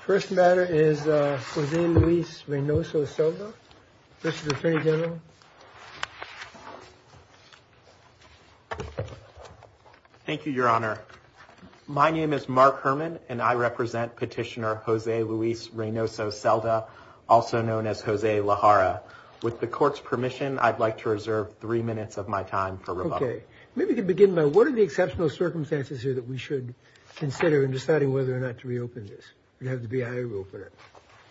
First matter is Jose Luis Reynoso-Selda. Mr. Attorney General. Thank you, Your Honor. My name is Mark Herman, and I represent Petitioner Jose Luis Reynoso-Selda, also known as Jose Lajara. With the court's permission, I'd like to reserve three minutes of my time for rebuttal. Okay. Maybe we can begin by, what are the exceptional circumstances here that we should consider in deciding whether or not to reopen this? We'd have to be a high rule for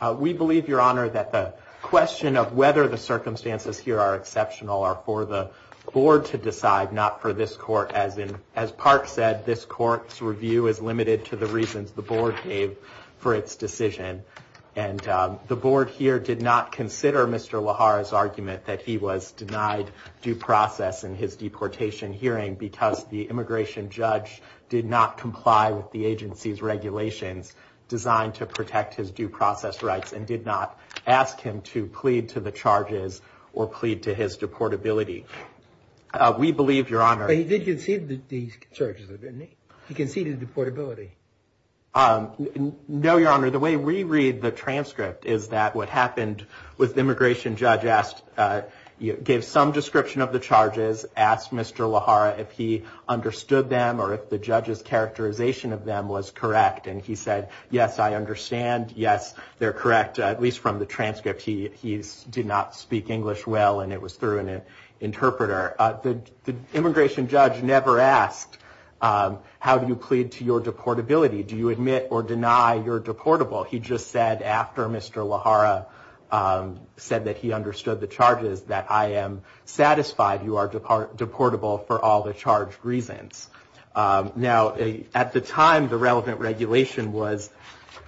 that. We believe, Your Honor, that the question of whether the circumstances here are exceptional are for the board to decide, not for this court. As Park said, this court's review is limited to the reasons the board gave for its decision. And the board here did not consider Mr. Lajara's argument that he was denied due process in his deportation hearing because the immigration judge did not comply with the agency's regulations designed to protect his due process rights and did not ask him to plead to the charges or plead to his deportability. We believe, Your Honor... But he did concede the charges, didn't he? He conceded deportability. No, Your Honor. The way we read the transcript is that what happened was the immigration judge gave some description of the charges, asked Mr. Lajara if he understood them or if the judge's characterization of them was correct. And he said, yes, I understand. Yes, they're correct, at least from the transcript. He did not speak English well, and it was through an interpreter. The immigration judge never asked, how do you plead to your deportability? Do you admit or deny you're deportable? He just said, after Mr. Lajara said that he understood the charges, that I am satisfied you are deportable for all the charged reasons. Now, at the time, the relevant regulation was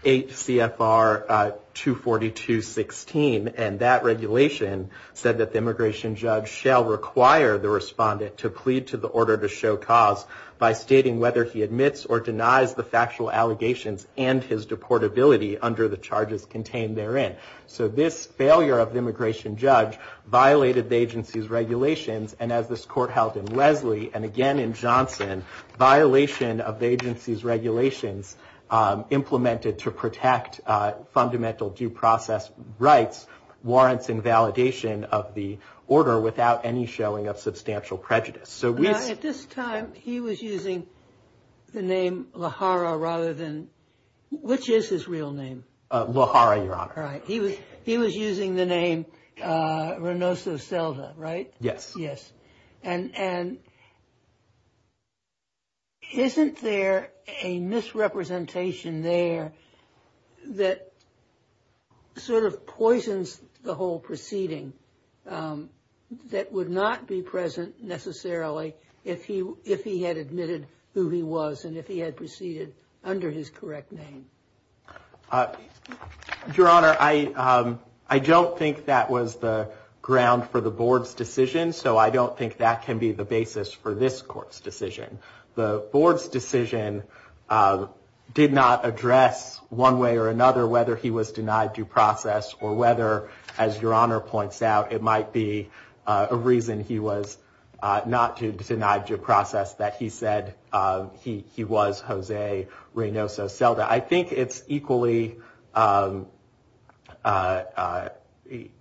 8 CFR 242.16. And that regulation said that the immigration judge shall require the respondent to plead to the order to show cause by stating whether he admits or denies the factual allegations and his deportability under the charges contained therein. So this failure of the immigration judge violated the agency's regulations. And as this court held in Leslie and again in Johnson, violation of the agency's regulations implemented to protect fundamental due process rights, warrants invalidation of the order without any showing of substantial prejudice. So at this time he was using the name Lajara rather than which is his real name? Lajara, Your Honor. All right. He was he was using the name Renoso Selva, right? Yes. Yes. And isn't there a misrepresentation there that sort of poisons the whole proceeding that would not be present necessarily if he if he had admitted who he was and if he had proceeded under his correct name? Your Honor, I don't think that was the ground for the board's decision. So I don't think that can be the basis for this court's decision. The board's decision did not address one way or another whether he was denied due process or whether, as Your Honor points out, it might be a reason he was not denied due process that he said he was Jose Renoso Selva. I think it's equally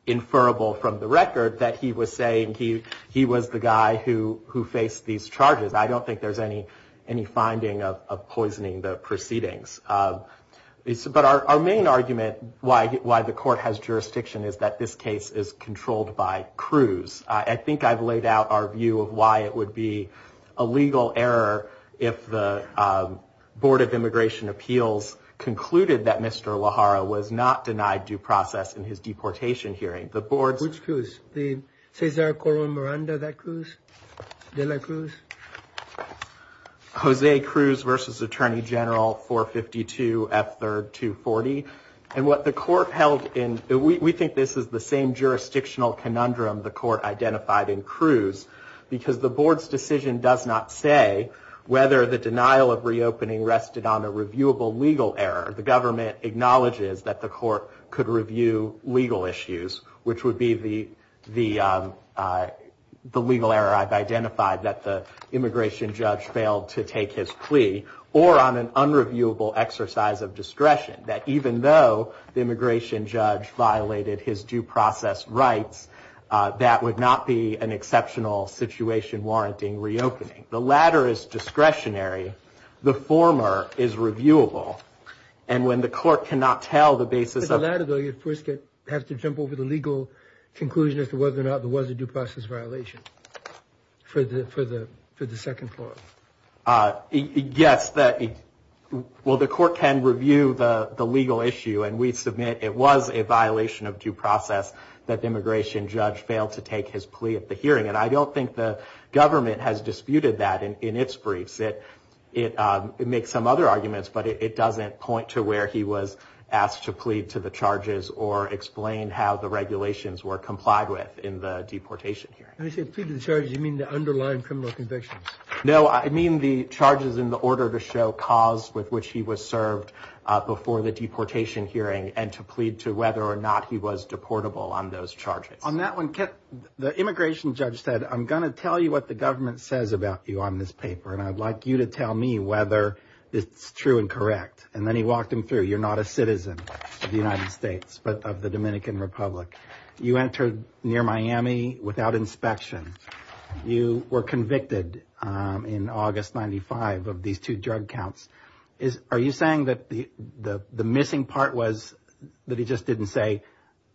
inferable from the record that he was saying he he was the guy who who faced these charges. I don't think there's any any finding of poisoning the proceedings. But our main argument why why the court has jurisdiction is that this case is controlled by Cruz. I think I've laid out our view of why it would be a legal error if the Board of Immigration Appeals concluded that Mr. Lajara was not denied due process in his deportation hearing. The board's which was the Cesar Corona Miranda that Cruz Cruz. Jose Cruz versus Attorney General for 52 F third to 40. And what the court held in. We think this is the same jurisdictional conundrum the court identified in Cruz because the board's decision does not say whether the denial of reopening rested on a reviewable legal error. The government acknowledges that the court could review legal issues, which would be the the the legal error. I've identified that the immigration judge failed to take his plea or on an unreviewable exercise of discretion that even though the immigration judge violated his due process rights, that would not be an exceptional situation warranting reopening. The latter is discretionary. The former is reviewable. And when the court cannot tell the basis of that ability, it has to jump over the legal conclusion as to whether or not there was a due process violation for the for the for the second floor. Yes. Well, the court can review the legal issue. And we submit it was a violation of due process that the immigration judge failed to take his plea at the hearing. And I don't think the government has disputed that in its briefs. I think that it makes some other arguments, but it doesn't point to where he was asked to plead to the charges or explain how the regulations were complied with in the deportation hearing. I said pleaded charges. You mean the underlying criminal convictions? No, I mean the charges in the order to show cause with which he was served before the deportation hearing and to plead to whether or not he was deportable on those charges on that one. The immigration judge said, I'm going to tell you what the government says about you on this paper and I'd like you to tell me whether it's true and correct. And then he walked him through. You're not a citizen of the United States, but of the Dominican Republic. You entered near Miami without inspection. You were convicted in August. Ninety five of these two drug counts. Are you saying that the missing part was that he just didn't say,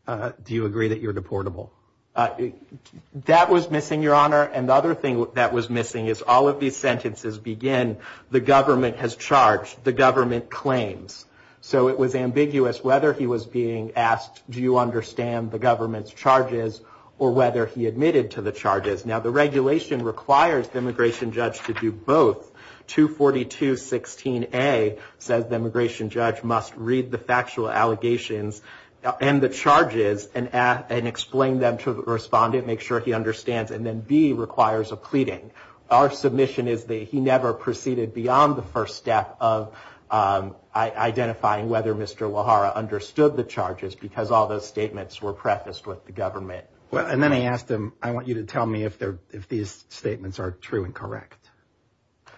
do you agree that you're deportable? That was missing, Your Honor. And the other thing that was missing is all of these sentences begin. The government has charged the government claims. So it was ambiguous whether he was being asked, do you understand the government's charges or whether he admitted to the charges. Now the regulation requires the immigration judge to do both. 242-16-A says the immigration judge must read the factual allegations and the charges and explain them to the respondent. Make sure he understands. And then B requires a pleading. Our submission is that he never proceeded beyond the first step of identifying whether Mr. Lajara understood the charges because all those statements were prefaced with the government. And then I asked him, I want you to tell me if these statements are true and correct.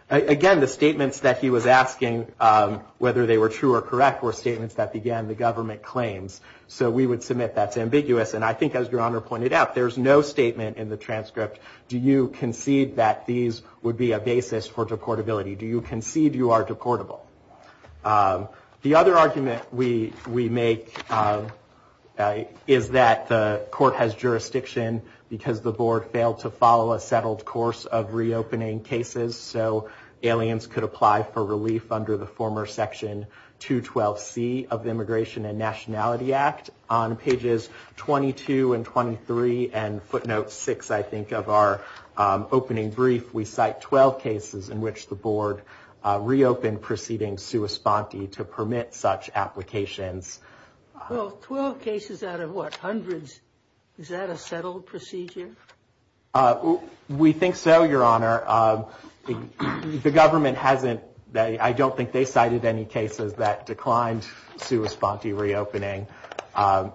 Again, the statements that he was asking whether they were true or correct were statements that began the government claims. So we would submit that's ambiguous. And I think, as Your Honor pointed out, there's no statement in the transcript. Do you concede that these would be a basis for deportability? Do you concede you are deportable? The other argument we make is that the court has jurisdiction because the board failed to follow a settled course of reopening cases. So aliens could apply for relief under the former Section 212C of the Immigration and Nationality Act. On pages 22 and 23 and footnote 6, I think, of our opening brief, we cite 12 cases in which the board reopened proceeding sua sponte to permit such applications. Well, 12 cases out of what, hundreds? Is that a settled procedure? We think so, Your Honor. The government hasn't. I don't think they cited any cases that declined sua sponte reopening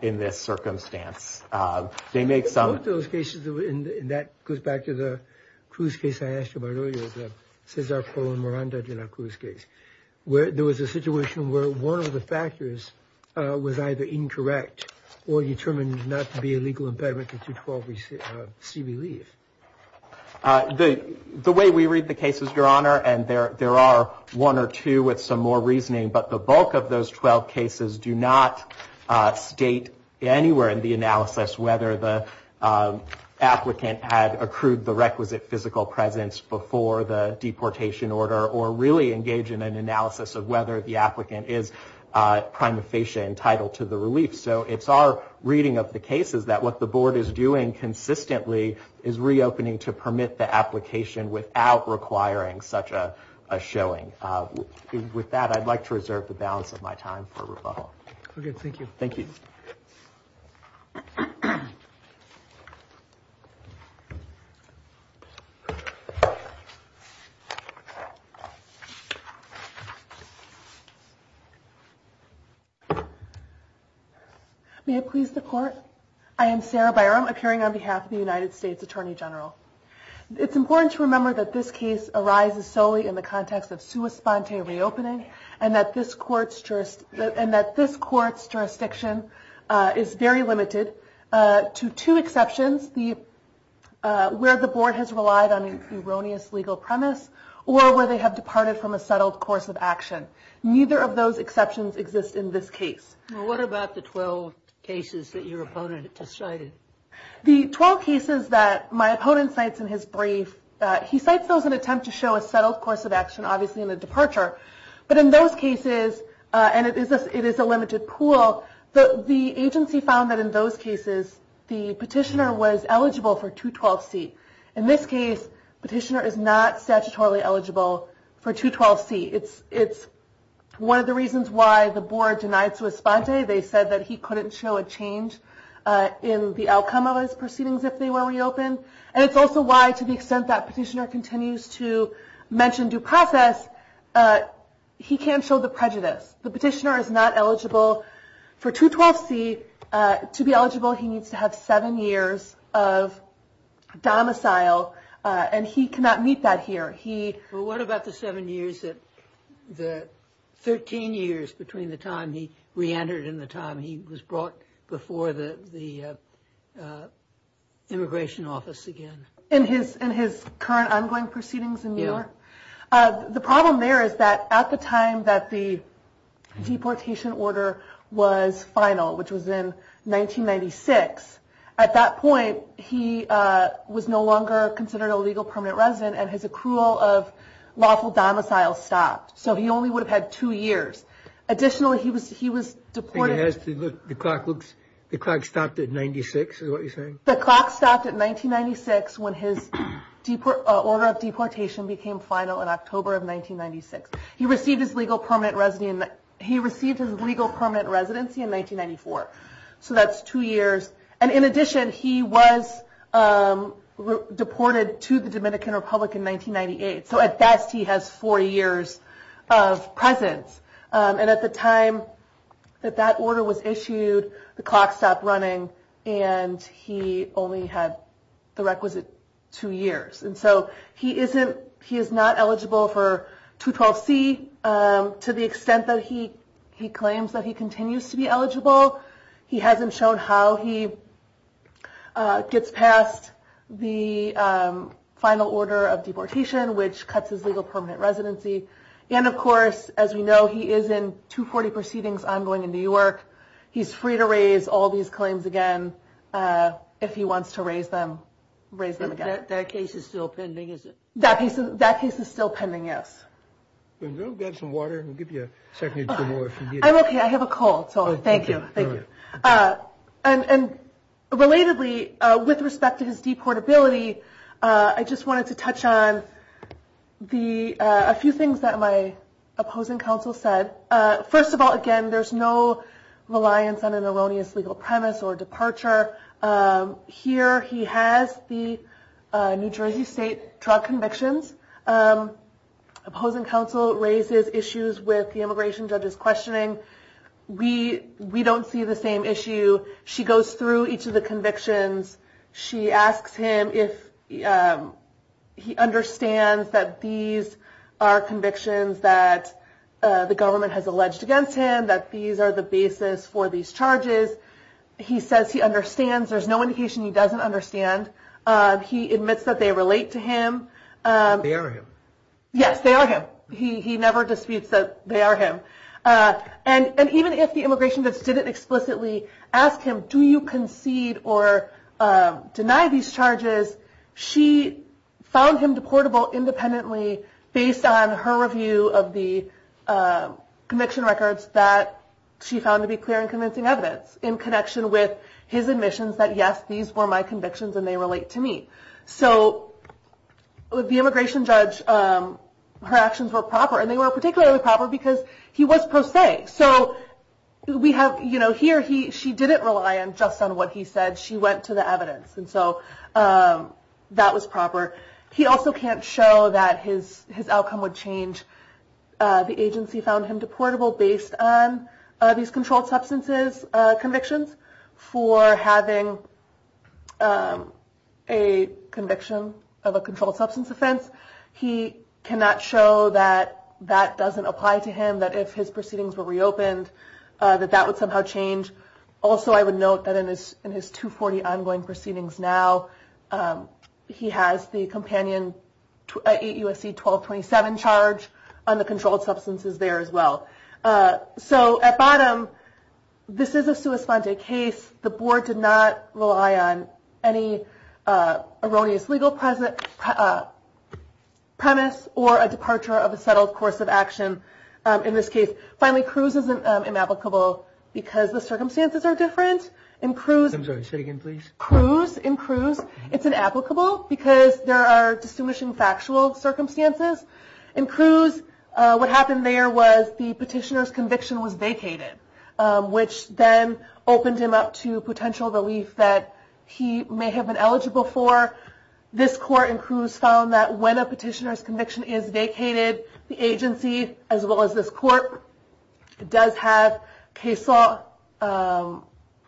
in this circumstance. I think both those cases, and that goes back to the Cruz case I asked you about earlier, the Cesar Colón Miranda de la Cruz case, where there was a situation where one of the factors was either incorrect or determined not to be a legal impediment to 212C relief. The way we read the cases, Your Honor, and there are one or two with some more reasoning, but the bulk of those 12 cases do not state anywhere in the analysis whether the applicant had accrued the requisite physical presence before the deportation order or really engage in an analysis of whether the applicant is prima facie entitled to the relief. So it's our reading of the cases that what the board is doing consistently is reopening to permit the application without requiring such a showing. With that, I'd like to reserve the balance of my time for rebuttal. Okay, thank you. Thank you. May it please the Court? I am Sarah Byram, appearing on behalf of the United States Attorney General. It's important to remember that this case arises solely in the context of sua sponte reopening and that this Court's jurisdiction is very limited to two exceptions, where the board has relied on an erroneous legal premise or where they have departed from a settled course of action. Neither of those exceptions exist in this case. What about the 12 cases that your opponent decided? The 12 cases that my opponent cites in his brief, he cites those in an attempt to show a settled course of action, obviously in the departure. But in those cases, and it is a limited pool, the agency found that in those cases the petitioner was eligible for 212C. In this case, the petitioner is not statutorily eligible for 212C. It's one of the reasons why the board denied sua sponte. They said that he couldn't show a change in the outcome of his proceedings if they were reopened. And it's also why, to the extent that petitioner continues to mention due process, he can't show the prejudice. The petitioner is not eligible for 212C. To be eligible, he needs to have seven years of domicile, and he cannot meet that here. What about the seven years, the 13 years between the time he reentered and the time he was brought before the immigration office again? In his current ongoing proceedings in New York? Yeah. The problem there is that at the time that the deportation order was final, which was in 1996, at that point he was no longer considered a legal permanent resident and his accrual of lawful domicile stopped. So he only would have had two years. Additionally, he was deported. The clock stopped at 1996, is what you're saying? The clock stopped at 1996 when his order of deportation became final in October of 1996. He received his legal permanent residency in 1994. So that's two years. And in addition, he was deported to the Dominican Republic in 1998. So at best he has four years of presence. And at the time that that order was issued, the clock stopped running, and he only had the requisite two years. And so he is not eligible for 212C. To the extent that he claims that he continues to be eligible, he hasn't shown how he gets past the final order of deportation, which cuts his legal permanent residency. And, of course, as we know, he is in 240 proceedings ongoing in New York. He's free to raise all these claims again if he wants to raise them again. That case is still pending, is it? That case is still pending, yes. Do you have some water? I'll give you a second or two more if you need it. I'm okay. I have a cold, so thank you. Thank you. And relatedly, with respect to his deportability, I just wanted to touch on a few things that my opposing counsel said. First of all, again, there's no reliance on an erroneous legal premise or departure. Here he has the New Jersey State drug convictions. Opposing counsel raises issues with the immigration judge's questioning. We don't see the same issue. She goes through each of the convictions. She asks him if he understands that these are convictions that the government has alleged against him, that these are the basis for these charges. He says he understands. There's no indication he doesn't understand. He admits that they relate to him. They are him. Yes, they are him. He never disputes that they are him. And even if the immigration judge didn't explicitly ask him, do you concede or deny these charges, she found him deportable independently based on her review of the conviction records that she found to be clear and convincing evidence, in connection with his admissions that, yes, these were my convictions and they relate to me. So the immigration judge, her actions were proper, and they were particularly proper because he was pro se. So here she didn't rely just on what he said. She went to the evidence. And so that was proper. He also can't show that his outcome would change. The agency found him deportable based on these controlled substances convictions. For having a conviction of a controlled substance offense, he cannot show that that doesn't apply to him, that if his proceedings were reopened, that that would somehow change. Also, I would note that in his 240 ongoing proceedings now, he has the companion 8 U.S.C. 1227 charge on the controlled substances there as well. So at bottom, this is a sua sponte case. The board did not rely on any erroneous legal premise or a departure of a settled course of action in this case. Finally, Cruz isn't inapplicable because the circumstances are different. In Cruz, it's inapplicable because there are distinguishing factual circumstances. In Cruz, what happened there was the petitioner's conviction was vacated, which then opened him up to potential relief that he may have been eligible for. This court in Cruz found that when a petitioner's conviction is vacated, the agency, as well as this court, does have case law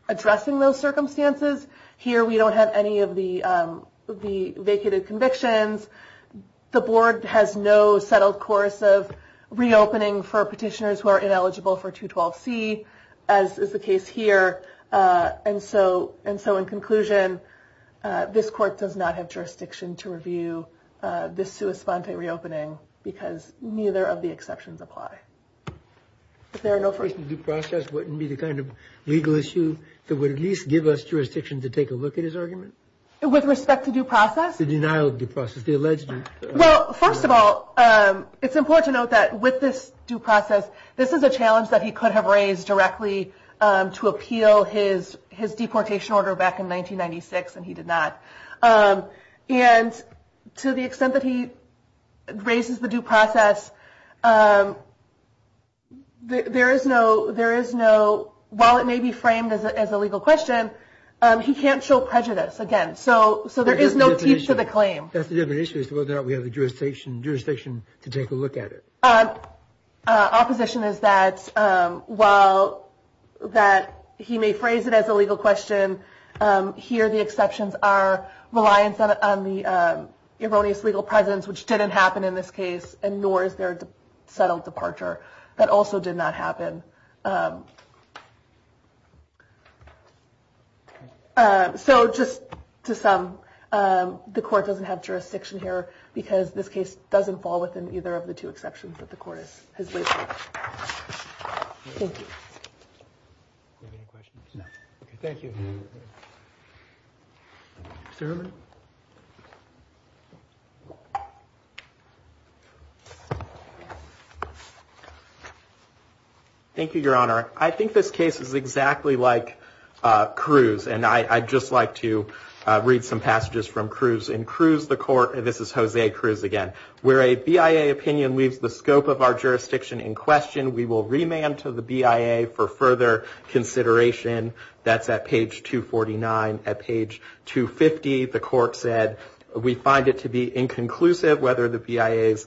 addressing those circumstances. Here we don't have any of the vacated convictions. The board has no settled course of reopening for petitioners who are ineligible for 212C, as is the case here. And so in conclusion, this court does not have jurisdiction to review this sua sponte reopening because neither of the exceptions apply. If there are no first due process, wouldn't it be the kind of legal issue that would at least give us jurisdiction to take a look at his argument? With respect to due process? The denial of due process, the alleged due process. Well, first of all, it's important to note that with this due process, this is a challenge that he could have raised directly to appeal his deportation order back in 1996, and he did not. And to the extent that he raises the due process, there is no – while it may be framed as a legal question, he can't show prejudice. Again, so there is no teeth to the claim. That's the different issue is whether or not we have the jurisdiction to take a look at it. Opposition is that while he may phrase it as a legal question, here the exceptions are reliance on the erroneous legal presence, which didn't happen in this case, and nor is there a settled departure. That also did not happen. So just to sum, the court doesn't have jurisdiction here because this case doesn't fall within either of the two exceptions that the court has labeled. Thank you. Do you have any questions? No. Okay, thank you. Mr. Herman? Thank you, Your Honor. I think this case is exactly like Cruz, and I'd just like to read some passages from Cruz in Cruz the Court. This is Jose Cruz again. Where a BIA opinion leaves the scope of our jurisdiction in question, we will remand to the BIA for further consideration. That's at page 249. At page 250, the court said, we find it to be inconclusive whether the BIA's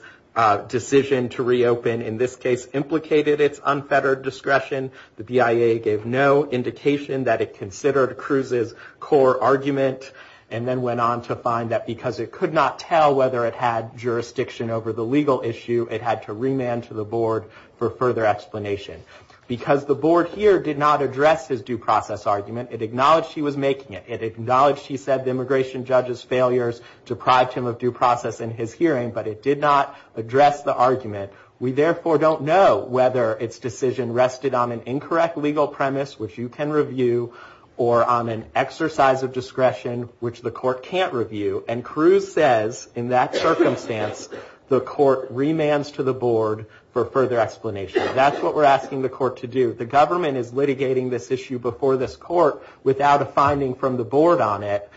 decision to reopen, in this case, implicated its unfettered discretion. The BIA gave no indication that it considered Cruz's core argument and then went on to find that because it could not tell whether it had jurisdiction over the legal issue, it had to remand to the board for further explanation. Because the board here did not address his due process argument, it acknowledged he was making it. It acknowledged he said the immigration judge's failures deprived him of due process in his hearing, but it did not address the argument. We therefore don't know whether its decision rested on an incorrect legal premise, which you can review, or on an exercise of discretion, which the court can't review. And Cruz says, in that circumstance, the court remands to the board for further explanation. That's what we're asking the court to do. The government is litigating this issue before this court without a finding from the board on it,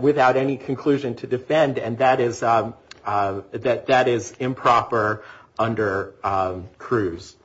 without any conclusion to defend, and that is improper under Cruz.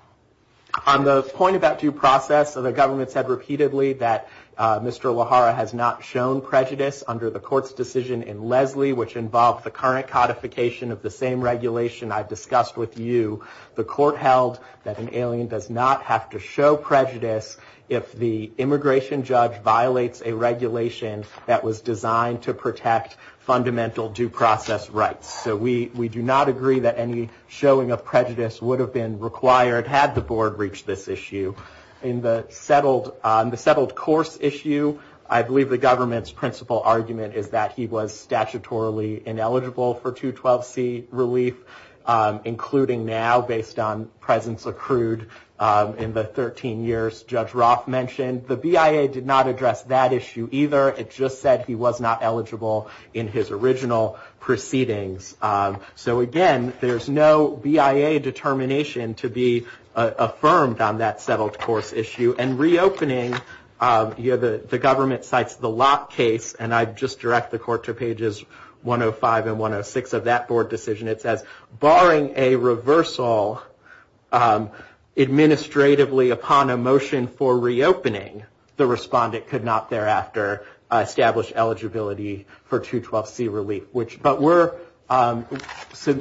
On the point about due process, the government said repeatedly that Mr. Lahara has not shown prejudice under the court's decision in Leslie, which involved the current codification of the same regulation I discussed with you. The court held that an alien does not have to show prejudice if the immigration judge violates a regulation that was designed to protect fundamental due process rights. So we do not agree that any showing of prejudice would have been required had the board reached this issue. In the settled course issue, I believe the government's principal argument is that he was statutorily ineligible for 212C relief, including now, based on presence accrued in the 13 years Judge Roth mentioned. The BIA did not address that issue either. It just said he was not eligible in his original proceedings. So again, there's no BIA determination to be affirmed on that settled course issue. And reopening, the government cites the Lopp case, and I just direct the court to pages 105 and 106 of that board decision. It says, barring a reversal administratively upon a motion for reopening, the respondent could not thereafter establish eligibility for 212C relief. But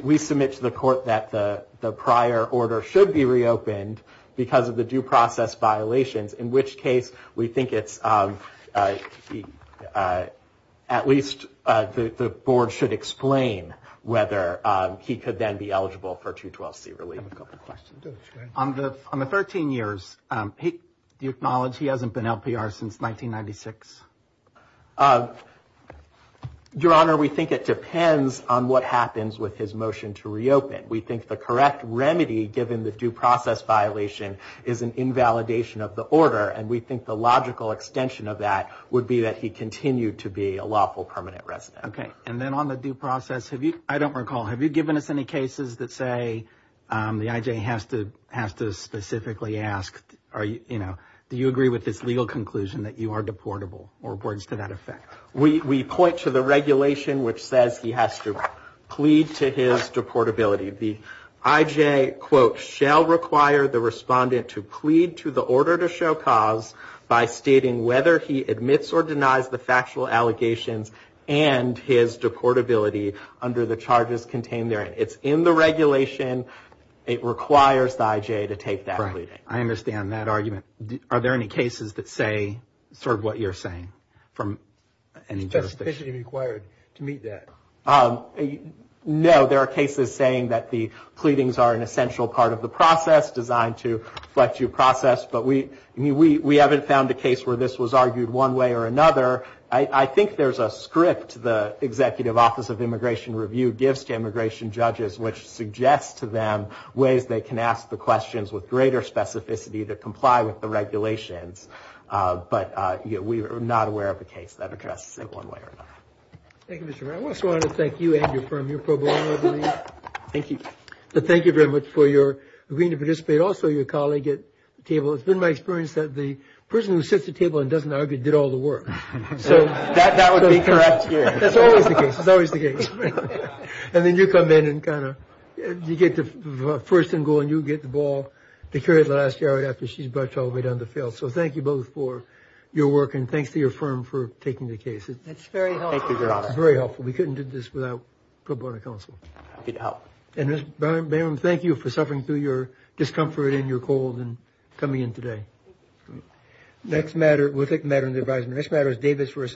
we submit to the court that the prior order should be reopened because of the due process violations, in which case we think at least the board should explain whether he could then be eligible for 212C relief. On the 13 years, do you acknowledge he hasn't been LPR since 1996? Your Honor, we think it depends on what happens with his motion to reopen. We think the correct remedy, given the due process violation, is an invalidation of the order, and we think the logical extension of that would be that he continued to be a lawful permanent resident. Okay. And then on the due process, I don't recall, have you given us any cases that say the IJ has to specifically ask, do you agree with this legal conclusion that you are deportable, or reports to that effect? We point to the regulation which says he has to plead to his deportability. The IJ, quote, shall require the respondent to plead to the order to show cause by stating whether he admits or denies the factual allegations and his deportability under the charges contained therein. It's in the regulation. It requires the IJ to take that pleading. Right. I understand that argument. Are there any cases that say sort of what you're saying from any jurisdiction? Specificity required to meet that. No, there are cases saying that the pleadings are an essential part of the process, designed to reflect due process, but we haven't found a case where this was argued one way or another. I think there's a script the Executive Office of Immigration Review gives to immigration judges which suggests to them ways they can ask the questions with greater specificity to comply with the regulations. But we are not aware of a case that addresses it one way or another. Thank you, Mr. Brown. I also wanted to thank you and your firm, your pro bono, I believe. Thank you. Also, your colleague at the table, it's been my experience that the person who sits at the table and doesn't argue did all the work. So that would be correct here. That's always the case. It's always the case. And then you come in and kind of you get the first and goal and you get the ball to carry it last yard after she's brushed all the way down the field. So thank you both for your work and thanks to your firm for taking the case. It's very helpful. Thank you, Your Honor. It's very helpful. We couldn't do this without pro bono counsel. Happy to help. Thank you for suffering through your discomfort and your cold and coming in today. Next matter. We'll take the matter into advisement. This matter is Davis versus.